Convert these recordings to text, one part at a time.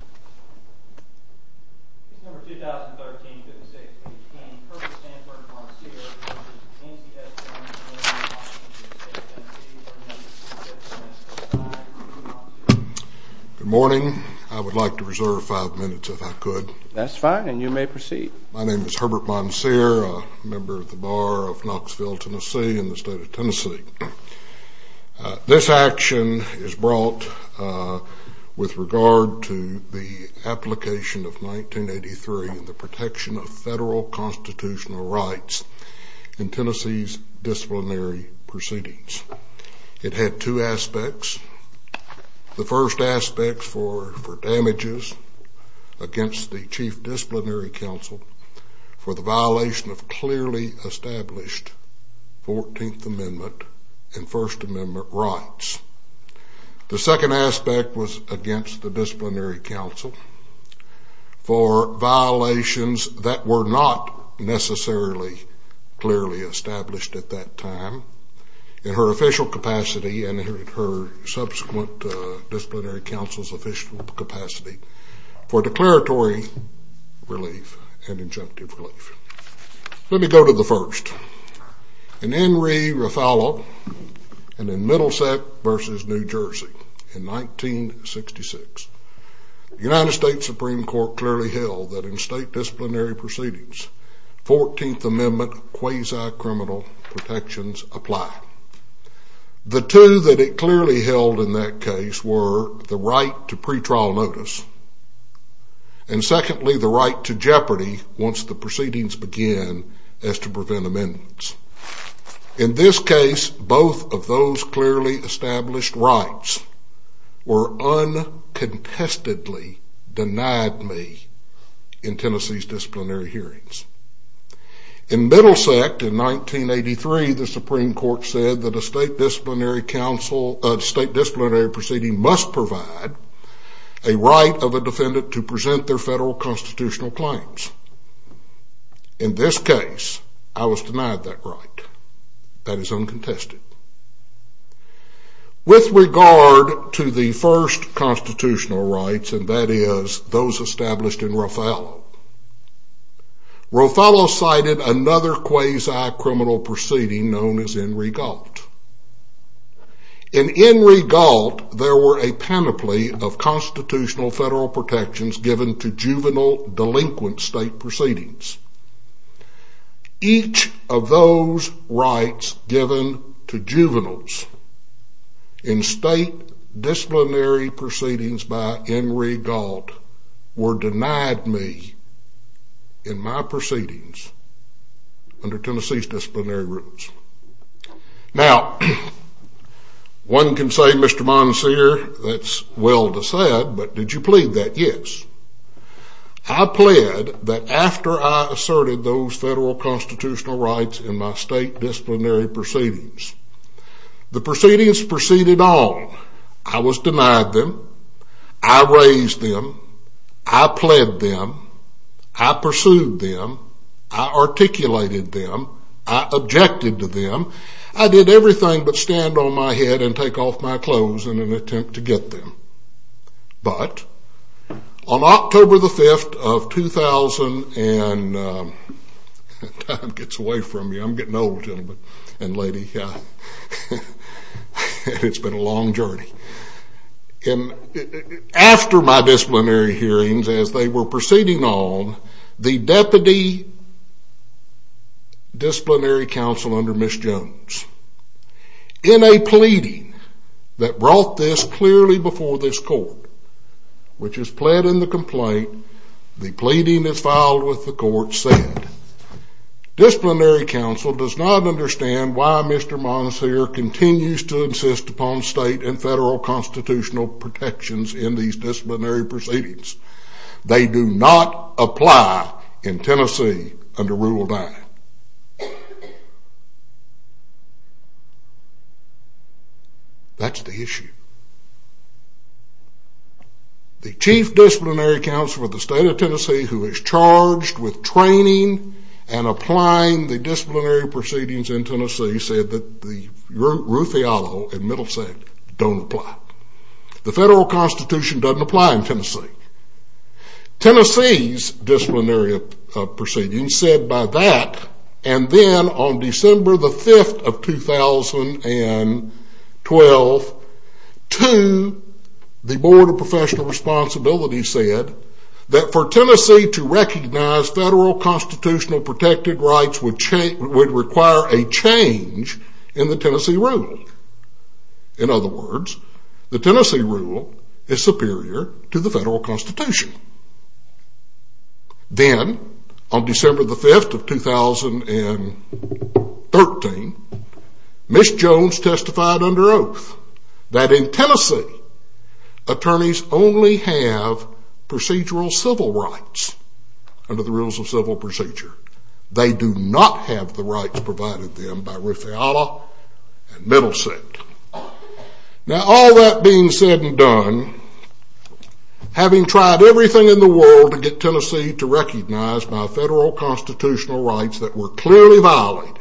Good morning. I would like to reserve five minutes if I could. That's fine and you may proceed. My name is Herbert Moncier, a member of the Bar of Knoxville, Tennessee in the state of Tennessee. This action is brought with regard to the application of 1983 and the protection of federal constitutional rights in Tennessee's disciplinary proceedings. It had two aspects. The first aspect for damages against the chief disciplinary counsel for the violation of clearly established 14th Amendment and First Amendment rights. The second aspect was against the disciplinary counsel for violations that were not necessarily clearly established at that time in her official capacity and her subsequent disciplinary counsel's official capacity for declaratory relief and injunctive relief. Let me go to the first. In Henry Raffaello and in Middlesex v. New Jersey in 1966, the United States Supreme Court clearly held that in state disciplinary proceedings, 14th Amendment quasi-criminal protections apply. The two that it clearly held in that case were the right to pretrial notice and secondly the right to jeopardy once the proceedings begin as to prevent amendments. In this case, both of those clearly established rights were uncontestedly denied me in Tennessee's disciplinary hearings. In Middlesex in 1983, the Supreme Court said that a state disciplinary proceeding must provide a right of a defendant to present their federal constitutional claims. In this case, I was denied that right. That is uncontested. With regard to the first constitutional rights and that is those established in Raffaello, Raffaello cited another quasi-criminal proceeding known as In Re Gault. In In Re Gault, there were a panoply of constitutional federal protections given to juvenile delinquent state proceedings. Each of those rights given to juveniles in state disciplinary proceedings by In Re Gault were denied me in my proceedings under Tennessee's disciplinary rules. Now, one can say, Mr. Monseer, that's well said, but did you plead that? Yes. I pled that after I asserted those federal constitutional rights in my state disciplinary proceedings, the proceedings proceeded on. I was denied them. I raised them. I pled them. I pursued them. I articulated them. I objected to them. I did everything but stand on my head and take off my clothes in an attempt to get them. But, on October the 5th of 2000, and time gets away from me. I'm getting old, gentlemen and lady. It's been a long journey. After my disciplinary hearings, as they were proceeding on, the deputy disciplinary counsel under Ms. Jones, in a pleading that brought this clearly before this court, which is pled in the complaint, the pleading is filed with the court, said, disciplinary counsel does not understand why Mr. Monseer continues to insist upon state and federal constitutional protections in these disciplinary proceedings. They do not apply in Tennessee under Rule 9. That's the issue. The chief disciplinary counsel of the state of Tennessee, who is charged with training and applying the disciplinary proceedings in Tennessee, said that the Rufiallo and Middlesex don't apply. The federal constitution doesn't apply in Tennessee. Tennessee's disciplinary proceedings said by that, and then on December the 5th of 2012, to the Board of Professional Responsibility said, that for Tennessee to recognize federal constitutional protected rights would require a change in the Tennessee rule. In other words, the Tennessee rule is superior to the federal constitution. Then, on December the 5th of 2013, Ms. Jones testified under oath that in Tennessee, attorneys only have procedural civil rights under the rules of civil procedure. They do not have the rights provided to them by Rufiallo and Middlesex. Now, all that being said and done, having tried everything in the world to get Tennessee to recognize my federal constitutional rights that were clearly violated,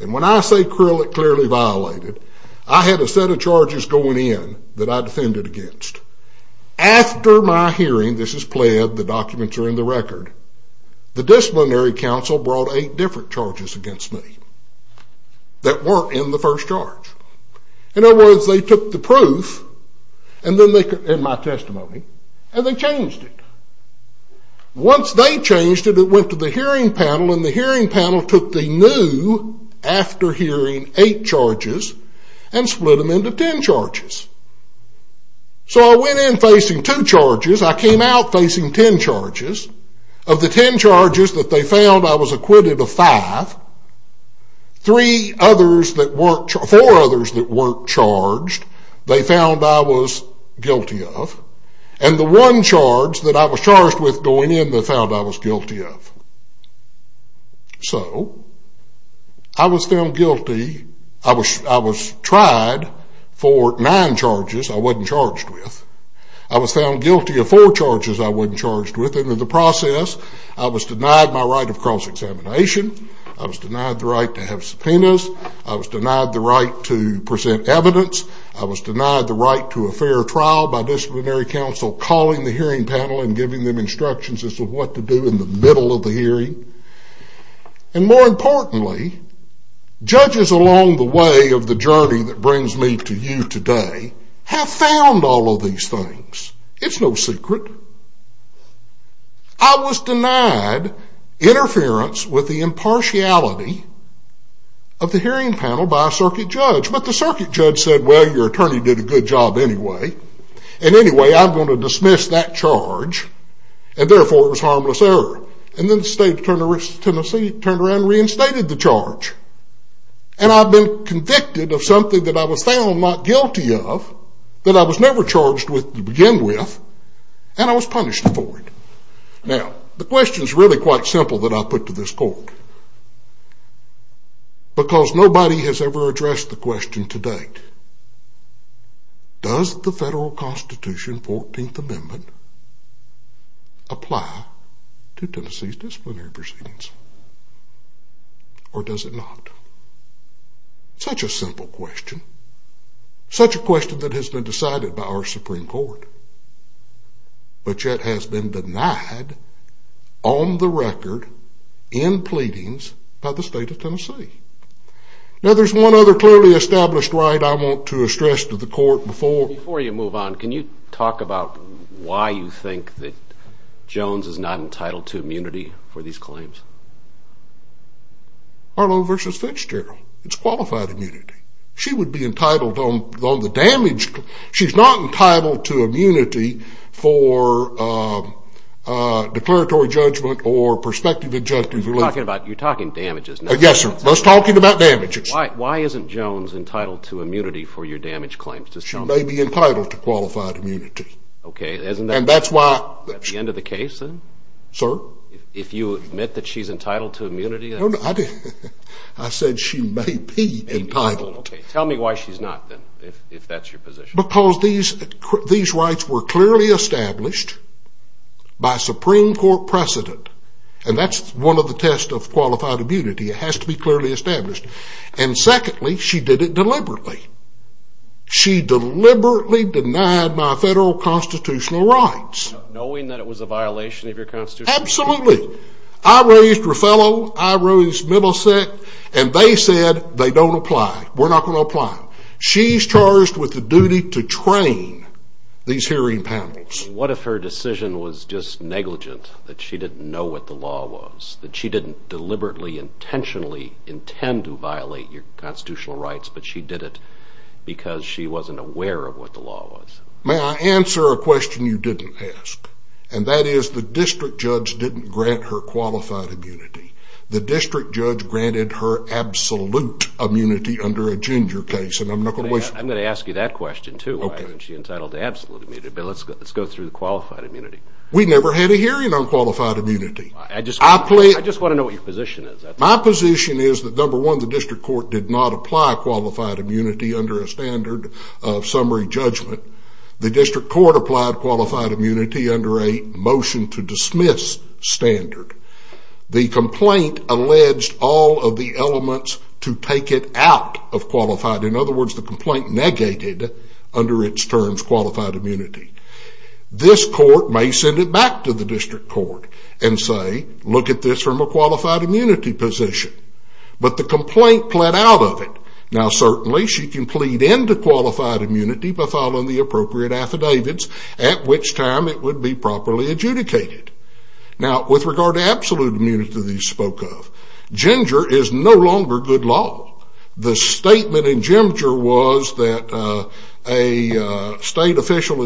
and when I say clearly violated, I had a set of charges going in that I defended against. After my hearing, this is pled, the documents are in the record, the disciplinary counsel brought eight different charges against me that weren't in the first charge. In other words, they took the proof in my testimony, and they changed it. Once they changed it, it went to the hearing panel, and the hearing panel took the new after-hearing eight charges and split them into ten charges. So I went in facing two charges, I came out facing ten charges. Of the ten charges that they found, I was acquitted of five. Four others that weren't charged, they found I was guilty of. And the one charge that I was charged with going in, they found I was guilty of. So, I was found guilty, I was tried for nine charges I wasn't charged with. I was found guilty of four charges I wasn't charged with. In the process, I was denied my right of cross-examination. I was denied the right to have subpoenas. I was denied the right to present evidence. I was denied the right to a fair trial by disciplinary counsel calling the hearing panel and giving them instructions as to what to do in the middle of the hearing. And more importantly, judges along the way of the journey that brings me to you today have found all of these things. It's no secret. I was denied interference with the impartiality of the hearing panel by a circuit judge. But the circuit judge said, well, your attorney did a good job anyway. And anyway, I'm going to dismiss that charge. And therefore, it was harmless error. And then the State Attorney of Tennessee turned around and reinstated the charge. And I've been convicted of something that I was found not guilty of, that I was never charged with to begin with, and I was punished for it. Now, the question is really quite simple that I put to this court. Because nobody has ever addressed the question to date. Does the federal Constitution, 14th Amendment, apply to Tennessee's disciplinary proceedings? Or does it not? Such a simple question. Such a question that has been decided by our Supreme Court. But yet has been denied on the record in pleadings by the State of Tennessee. Now, there's one other clearly established right I want to stress to the court before. Before you move on, can you talk about why you think that Jones is not entitled to immunity for these claims? Harlow v. Finch-Gerald. It's qualified immunity. She would be entitled on the damage. She's not entitled to immunity for declaratory judgment or prospective injunctive relief. You're talking damages. Yes, sir. I was talking about damages. Why isn't Jones entitled to immunity for your damage claims? She may be entitled to qualified immunity. Okay. And that's why. At the end of the case, then? Sir? If you admit that she's entitled to immunity? I said she may be entitled. Okay. Tell me why she's not, then, if that's your position. Because these rights were clearly established by Supreme Court precedent. And that's one of the tests of qualified immunity. It has to be clearly established. And secondly, she did it deliberately. She deliberately denied my federal constitutional rights. Knowing that it was a violation of your constitutional rights? Absolutely. I raised Ruffalo. I raised Middlesex. And they said they don't apply. We're not going to apply. She's charged with the duty to train these hearing panels. What if her decision was just negligent? That she didn't know what the law was? That she didn't deliberately, intentionally intend to violate your constitutional rights, but she did it because she wasn't aware of what the law was? May I answer a question you didn't ask? And that is the district judge didn't grant her qualified immunity. The district judge granted her absolute immunity under a Ginger case. And I'm not going to waste my time. I'm going to ask you that question, too. Why isn't she entitled to absolute immunity? But let's go through the qualified immunity. We never had a hearing on qualified immunity. I just want to know what your position is. My position is that, number one, the district court did not apply qualified immunity under a standard of summary judgment. The district court applied qualified immunity under a motion to dismiss standard. The complaint alleged all of the elements to take it out of qualified. In other words, the complaint negated under its terms qualified immunity. This court may send it back to the district court and say, look at this from a qualified immunity position. But the complaint pled out of it. Now, certainly she can plead into qualified immunity by filing the appropriate affidavits, at which time it would be properly adjudicated. Now, with regard to absolute immunity that you spoke of, Ginger is no longer good law. The statement in Ginger was that a state official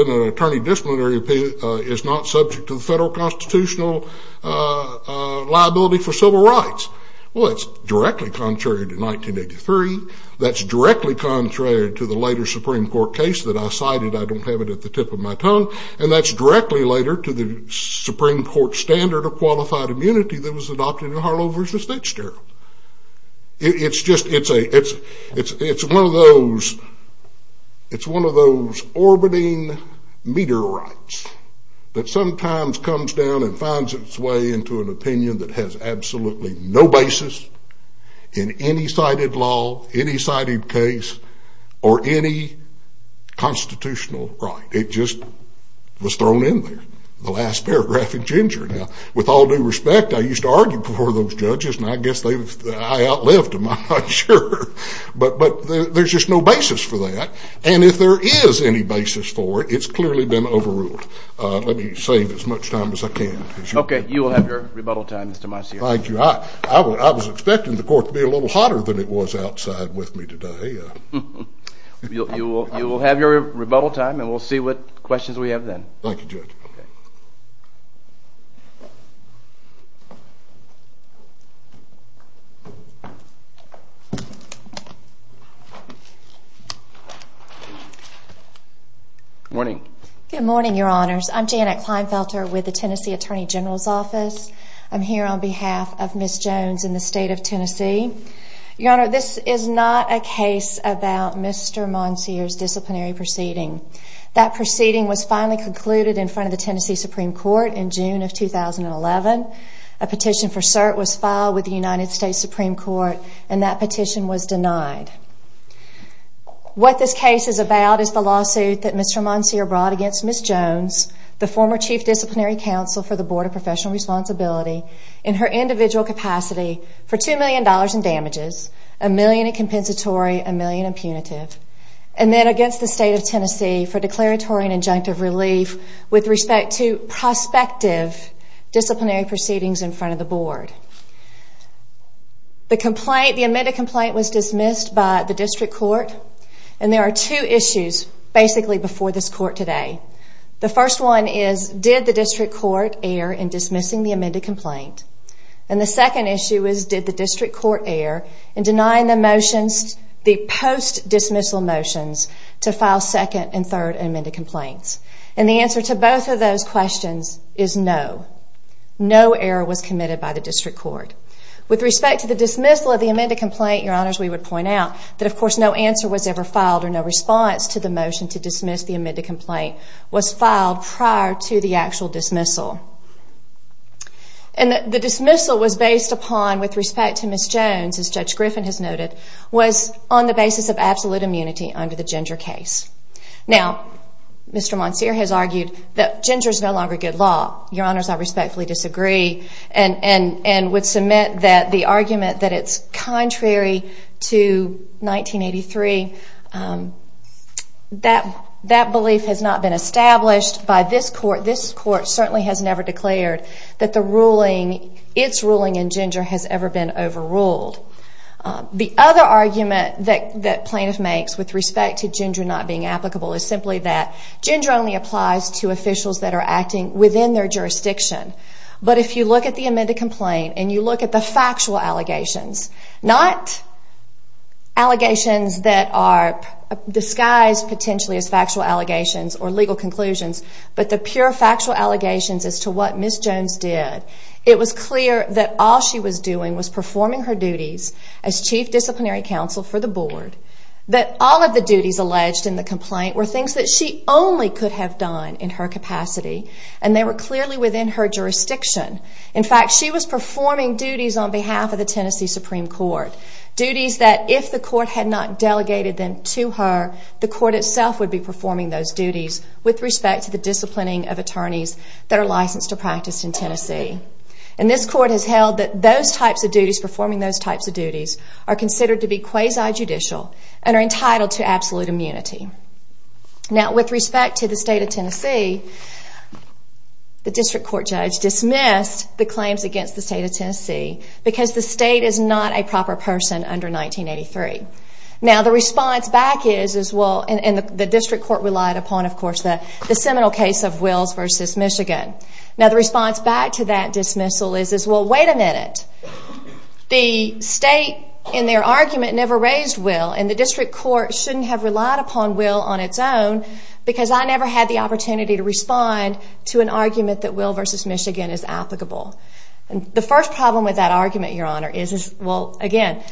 in an attorney disciplinary appeal is not subject to the federal constitutional liability for civil rights. Well, that's directly contrary to 1983. That's directly contrary to the later Supreme Court case that I cited. I don't have it at the tip of my tongue. And that's directly later to the Supreme Court standard of qualified immunity that was adopted in Harlow v. State Sterling. It's one of those orbiting meteorites that sometimes comes down and finds its way into an opinion that has absolutely no basis in any cited law, any cited case, or any constitutional right. It just was thrown in there, the last paragraph in Ginger. Now, with all due respect, I used to argue before those judges. And I guess I outlived them. I'm not sure. But there's just no basis for that. And if there is any basis for it, it's clearly been overruled. Let me save as much time as I can. OK. You will have your rebuttal time, Mr. Meissner. Thank you. I was expecting the court to be a little hotter than it was outside with me today. You will have your rebuttal time, and we'll see what questions we have then. Thank you, Judge. Good morning. Good morning, Your Honors. I'm Janet Kleinfelter with the Tennessee Attorney General's Office. I'm here on behalf of Ms. Jones in the state of Tennessee. Your Honor, this is not a case about Mr. Monsier's disciplinary proceeding. That proceeding was finally concluded in front of the Tennessee Supreme Court in June of 2011. A petition for cert was filed with the United States Supreme Court, and that petition was denied. What this case is about is the lawsuit that Mr. Monsier brought against Ms. Jones, the former Chief Disciplinary Counsel for the Board of Professional Responsibility, in her individual capacity for $2 million in damages, a million in compensatory, a million in punitive, and then against the state of Tennessee for declaratory and injunctive relief with respect to prospective disciplinary proceedings in front of the Board. The amended complaint was dismissed by the district court, and there are two issues basically before this court today. The first one is, did the district court err in dismissing the amended complaint? And the second issue is, did the district court err in denying the motions, the post-dismissal motions to file second and third amended complaints? And the answer to both of those questions is no. No error was committed by the district court. With respect to the dismissal of the amended complaint, Your Honors, we would point out that, of course, no answer was ever filed or no response to the motion to dismiss the amended complaint was filed prior to the actual dismissal. And the dismissal was based upon, with respect to Ms. Jones, as Judge Griffin has noted, was on the basis of absolute immunity under the Ginger case. Now, Mr. Monsier has argued that Ginger is no longer good law. Your Honors, I respectfully disagree and would submit that the argument that it's contrary to 1983 that belief has not been established by this court. This court certainly has never declared that its ruling in Ginger has ever been overruled. The other argument that plaintiff makes with respect to Ginger not being applicable is simply that Ginger only applies to officials that are acting within their jurisdiction. But if you look at the amended complaint and you look at the factual allegations, not allegations that are disguised potentially as factual allegations or legal conclusions, but the pure factual allegations as to what Ms. Jones did, it was clear that all she was doing was performing her duties as chief disciplinary counsel for the board, that all of the duties alleged in the complaint were things that she only could have done in her capacity, and they were clearly within her jurisdiction. In fact, she was performing duties on behalf of the Tennessee Supreme Court, duties that if the court had not delegated them to her, the court itself would be performing those duties with respect to the disciplining of attorneys that are licensed to practice in Tennessee. And this court has held that those types of duties, performing those types of duties, are considered to be quasi-judicial and are entitled to absolute immunity. Now, with respect to the state of Tennessee, the district court judge dismissed the claims against the state of Tennessee because the state is not a proper person under 1983. Now, the response back is, and the district court relied upon, of course, the seminal case of Wills v. Michigan. Now, the response back to that dismissal is, well, wait a minute. The state, in their argument, never raised Wills, and the district court shouldn't have relied upon Wills on its own because I never had the opportunity to respond to an argument that Wills v. Michigan is applicable. The first problem with that argument, Your Honor, is, well, again,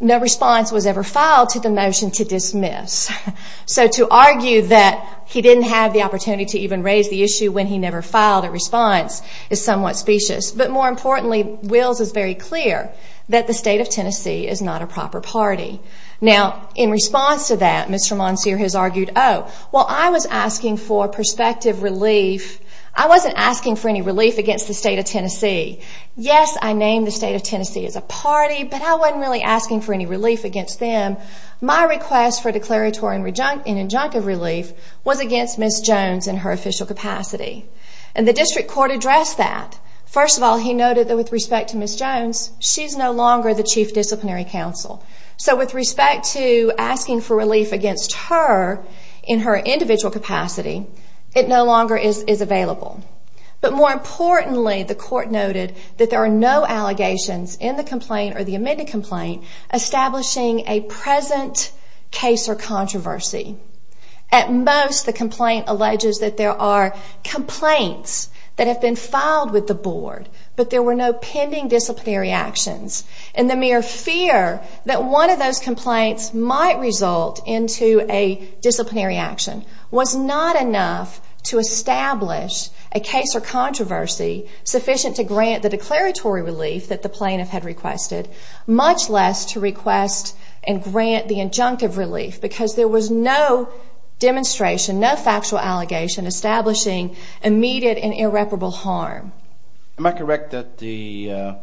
no response was ever filed to the motion to dismiss. So to argue that he didn't have the opportunity to even raise the issue when he never filed a response is somewhat specious. But more importantly, Wills is very clear that the state of Tennessee is not a proper party. Now, in response to that, Mr. Monsier has argued, oh, well, I was asking for perspective relief. I wasn't asking for any relief against the state of Tennessee. Yes, I named the state of Tennessee as a party, but I wasn't really asking for any relief against them. My request for declaratory and injunctive relief was against Ms. Jones in her official capacity. And the district court addressed that. First of all, he noted that with respect to Ms. Jones, she's no longer the chief disciplinary counsel. So with respect to asking for relief against her in her individual capacity, it no longer is available. But more importantly, the court noted that there are no allegations in the complaint or the amended complaint establishing a present case or controversy. At most, the complaint alleges that there are complaints that have been filed with the board, but there were no pending disciplinary actions. And the mere fear that one of those complaints might result into a disciplinary action was not enough to establish a case or controversy sufficient to grant the declaratory relief that the plaintiff had requested, much less to request and grant the injunctive relief, because there was no demonstration, no factual allegation establishing immediate and irreparable harm. Am I correct that the, I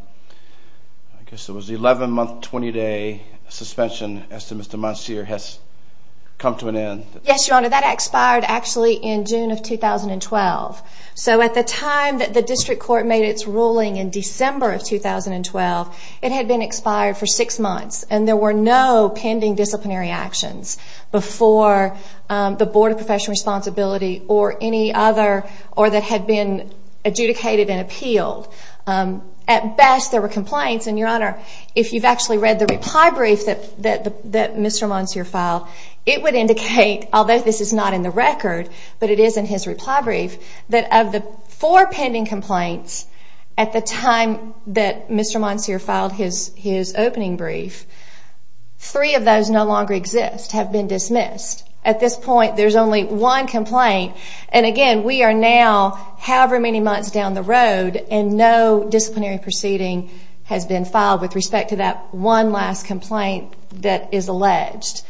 guess it was the 11-month, 20-day suspension, as to Mr. Monsieur, has come to an end? Yes, Your Honor. That expired actually in June of 2012. So at the time that the district court made its ruling in December of 2012, it had been expired for six months. And there were no pending disciplinary actions before the board of professional responsibility or any other, or that had been adjudicated and appealed. At best, there were complaints. And, Your Honor, if you've actually read the reply brief that Mr. Monsieur filed, it would indicate, although this is not in the record, but it is in his reply brief, that of the four pending complaints at the time that Mr. Monsieur filed his opening brief, three of those no longer exist, have been dismissed. At this point, there's only one complaint. And, again, we are now however many months down the road, and no disciplinary proceeding has been filed with respect to that one last complaint that is alleged.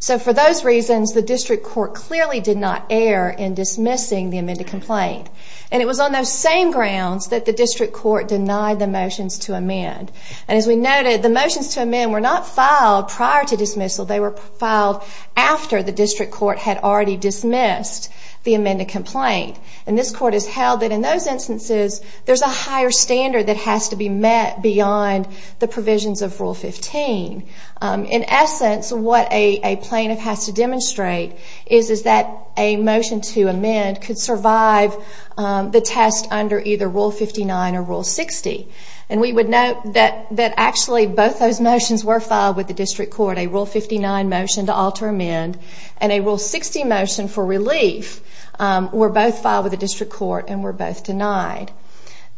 So for those reasons, the district court clearly did not err in dismissing the amended complaint. And it was on those same grounds that the district court denied the motions to amend. And as we noted, the motions to amend were not filed prior to dismissal. They were filed after the district court had already dismissed the amended complaint. And this court has held that in those instances, there's a higher standard that has to be met beyond the provisions of Rule 15. In essence, what a plaintiff has to demonstrate is that a motion to amend could survive the test under either Rule 59 or Rule 60. And we would note that actually both those motions were filed with the district court. A Rule 59 motion to alter amend and a Rule 60 motion for relief were both filed with the district court and were both denied.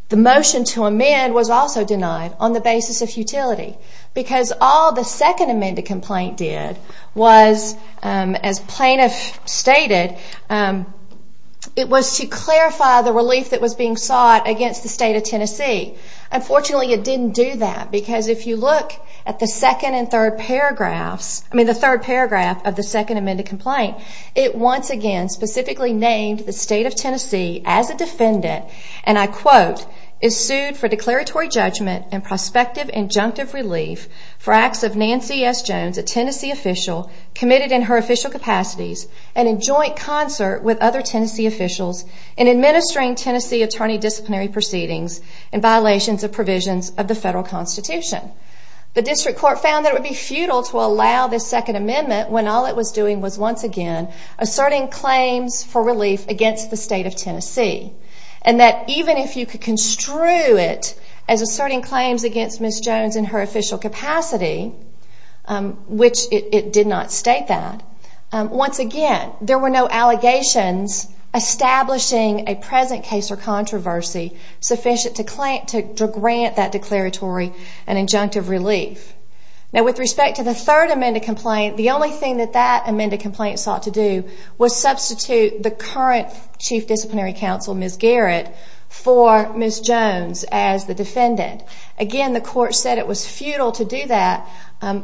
The motion to amend was also denied on the basis of futility because all the second amended complaint did was, as plaintiff stated, it was to clarify the relief that was being sought against the state of Tennessee. Unfortunately, it didn't do that because if you look at the second and third paragraphs, I mean the third paragraph of the second amended complaint, it once again specifically named the state of Tennessee as a defendant, and I quote, is sued for declaratory judgment and prospective injunctive relief for acts of Nancy S. Jones, a Tennessee official, committed in her official capacities and in joint concert with other Tennessee officials in administering Tennessee attorney disciplinary proceedings in violations of provisions of the federal constitution. The district court found that it would be futile to allow this second amendment when all it was doing was, once again, asserting claims for relief against the state of Tennessee. And that even if you could construe it as asserting claims against Ms. Jones in her official capacity, which it did not state that, once again, there were no allegations establishing a present case or controversy sufficient to grant that declaratory and injunctive relief. Now with respect to the third amended complaint, the only thing that that amended complaint sought to do was substitute the current chief disciplinary counsel, Ms. Garrett, for Ms. Jones as the defendant. Again, the court said it was futile to do that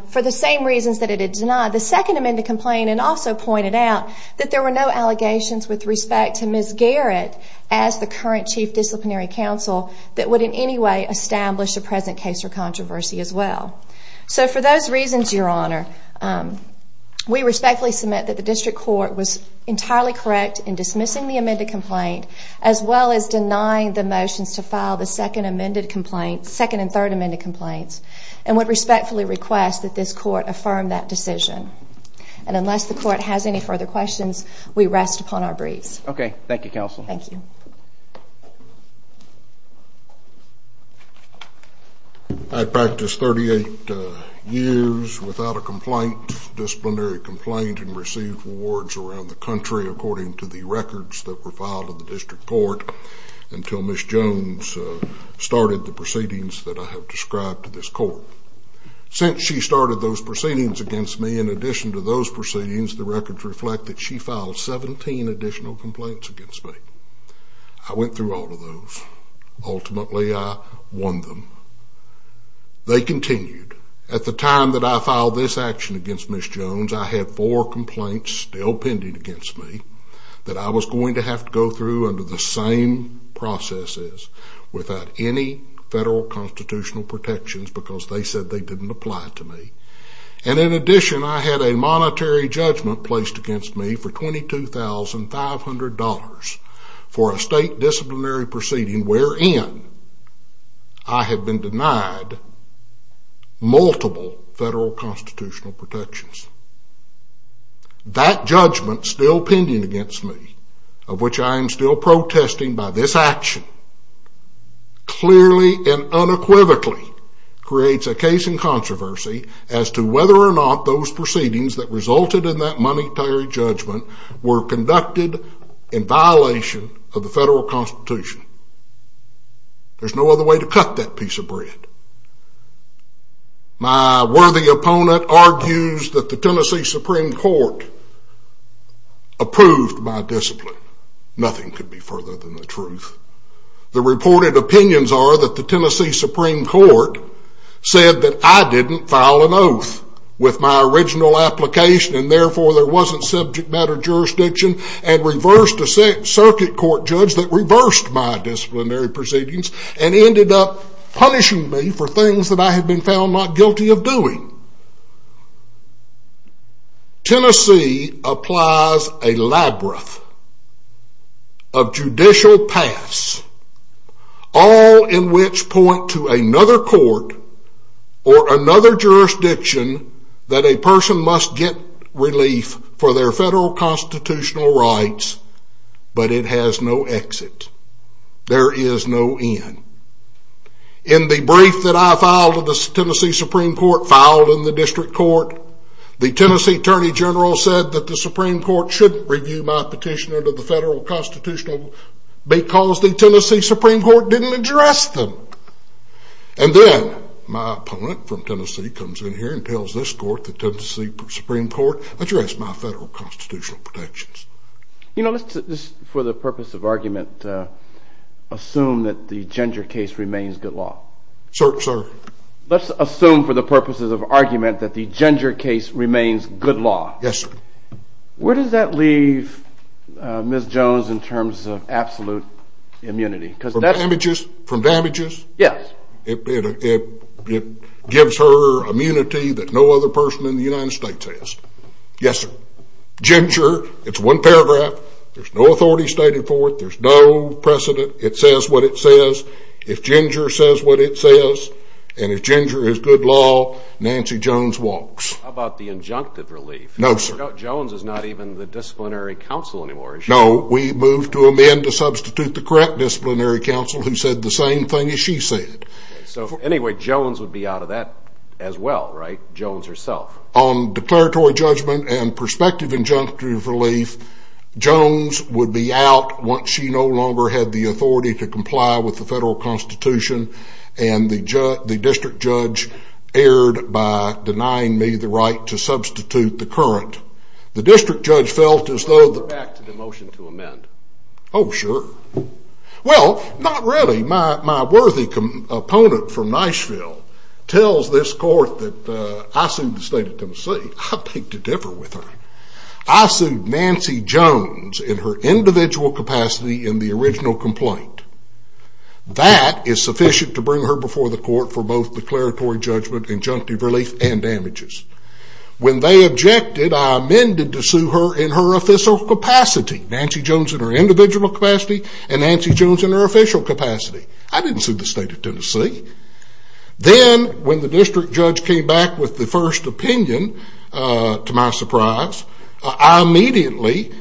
for the same reasons that it had denied. It denied the second amended complaint and also pointed out that there were no allegations with respect to Ms. Garrett as the current chief disciplinary counsel that would in any way establish a present case or controversy as well. So for those reasons, Your Honor, we respectfully submit that the district court was entirely correct in dismissing the amended complaint as well as denying the motions to file the second and third amended complaints and would respectfully request that this court affirm that decision. And unless the court has any further questions, we rest upon our briefs. Okay. Thank you, counsel. Thank you. I practiced 38 years without a complaint, disciplinary complaint, and received awards around the country according to the records that were filed in the district court until Ms. Jones started the proceedings that I have described to this court. Since she started those proceedings against me, in addition to those proceedings, the records reflect that she filed 17 additional complaints against me. I went through all of those. Ultimately, I won them. They continued. At the time that I filed this action against Ms. Jones, I had four complaints still pending against me that I was going to have to go through under the same processes without any federal constitutional protections because they said they didn't apply to me. And in addition, I had a monetary judgment placed against me for $22,500 for a state disciplinary proceeding wherein I have been denied multiple federal constitutional protections. That judgment still pending against me, of which I am still protesting by this action, clearly and unequivocally creates a case in controversy as to whether or not those proceedings that resulted in that monetary judgment were conducted in violation of the federal constitution. There's no other way to cut that piece of bread. My worthy opponent argues that the Tennessee Supreme Court approved my discipline. Nothing could be further than the truth. The reported opinions are that the Tennessee Supreme Court said that I didn't file an oath with my original application and therefore there wasn't subject matter jurisdiction and reversed a circuit court judge that reversed my disciplinary proceedings and ended up punishing me for things that I have been found not guilty of doing. Tennessee applies a labyrinth of judicial paths, all in which point to another court or another jurisdiction that a person must get relief for their federal constitutional rights, but it has no exit. There is no end. In the brief that I filed in the Tennessee Supreme Court filed in the district court, the Tennessee Attorney General said that the Supreme Court shouldn't review my petition under the federal constitutional because the Tennessee Supreme Court didn't address them. And then my opponent from Tennessee comes in here and tells this court, the Tennessee Supreme Court, address my federal constitutional protections. You know, just for the purpose of argument, assume that the Ginger case remains good law. Sir, sir. Let's assume for the purposes of argument that the Ginger case remains good law. Yes, sir. Where does that leave Ms. Jones in terms of absolute immunity? From damages? Yes. It gives her immunity that no other person in the United States has. Yes, sir. If Ginger, it's one paragraph, there's no authority stated for it. There's no precedent. It says what it says. If Ginger says what it says, and if Ginger is good law, Nancy Jones walks. How about the injunctive relief? No, sir. Turns out Jones is not even the disciplinary counsel anymore, is she? No. We moved to amend to substitute the correct disciplinary counsel who said the same thing as she said. So anyway, Jones would be out of that as well, right? Jones herself. On declaratory judgment and prospective injunctive relief, Jones would be out once she no longer had the authority to comply with the federal constitution, and the district judge erred by denying me the right to substitute the current. The district judge felt as though the- Let's go back to the motion to amend. Oh, sure. Well, not really. My worthy opponent from Nashville tells this court that I sued the state of Tennessee. I beg to differ with her. I sued Nancy Jones in her individual capacity in the original complaint. That is sufficient to bring her before the court for both declaratory judgment, injunctive relief, and damages. When they objected, I amended to sue her in her official capacity. Nancy Jones in her individual capacity and Nancy Jones in her official capacity. I didn't sue the state of Tennessee. Then when the district judge came back with the first opinion, to my surprise, I immediately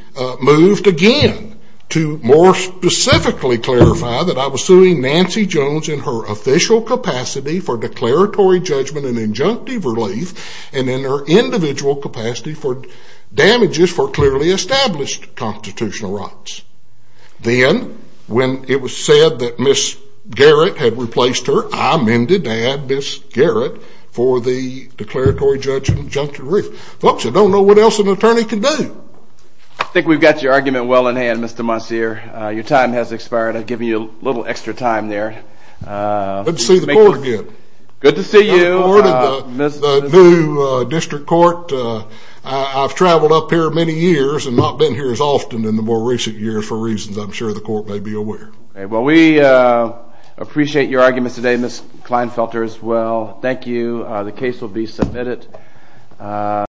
moved again to more specifically clarify that I was suing Nancy Jones in her official capacity for declaratory judgment and injunctive relief and in her individual capacity for damages for clearly established constitutional rights. Then when it was said that Ms. Garrett had replaced her, I amended to add Ms. Garrett for the declaratory judgment injunctive relief. Folks, I don't know what else an attorney can do. I think we've got your argument well in hand, Mr. Monsieur. Your time has expired. I've given you a little extra time there. Good to see the court again. Good to see you. Good to see the court at the new district court. I've traveled up here many years and not been here as often in the more recent years for reasons I'm sure the court may be aware. Well, we appreciate your arguments today, Ms. Kleinfelter, as well. Thank you. The case will be submitted.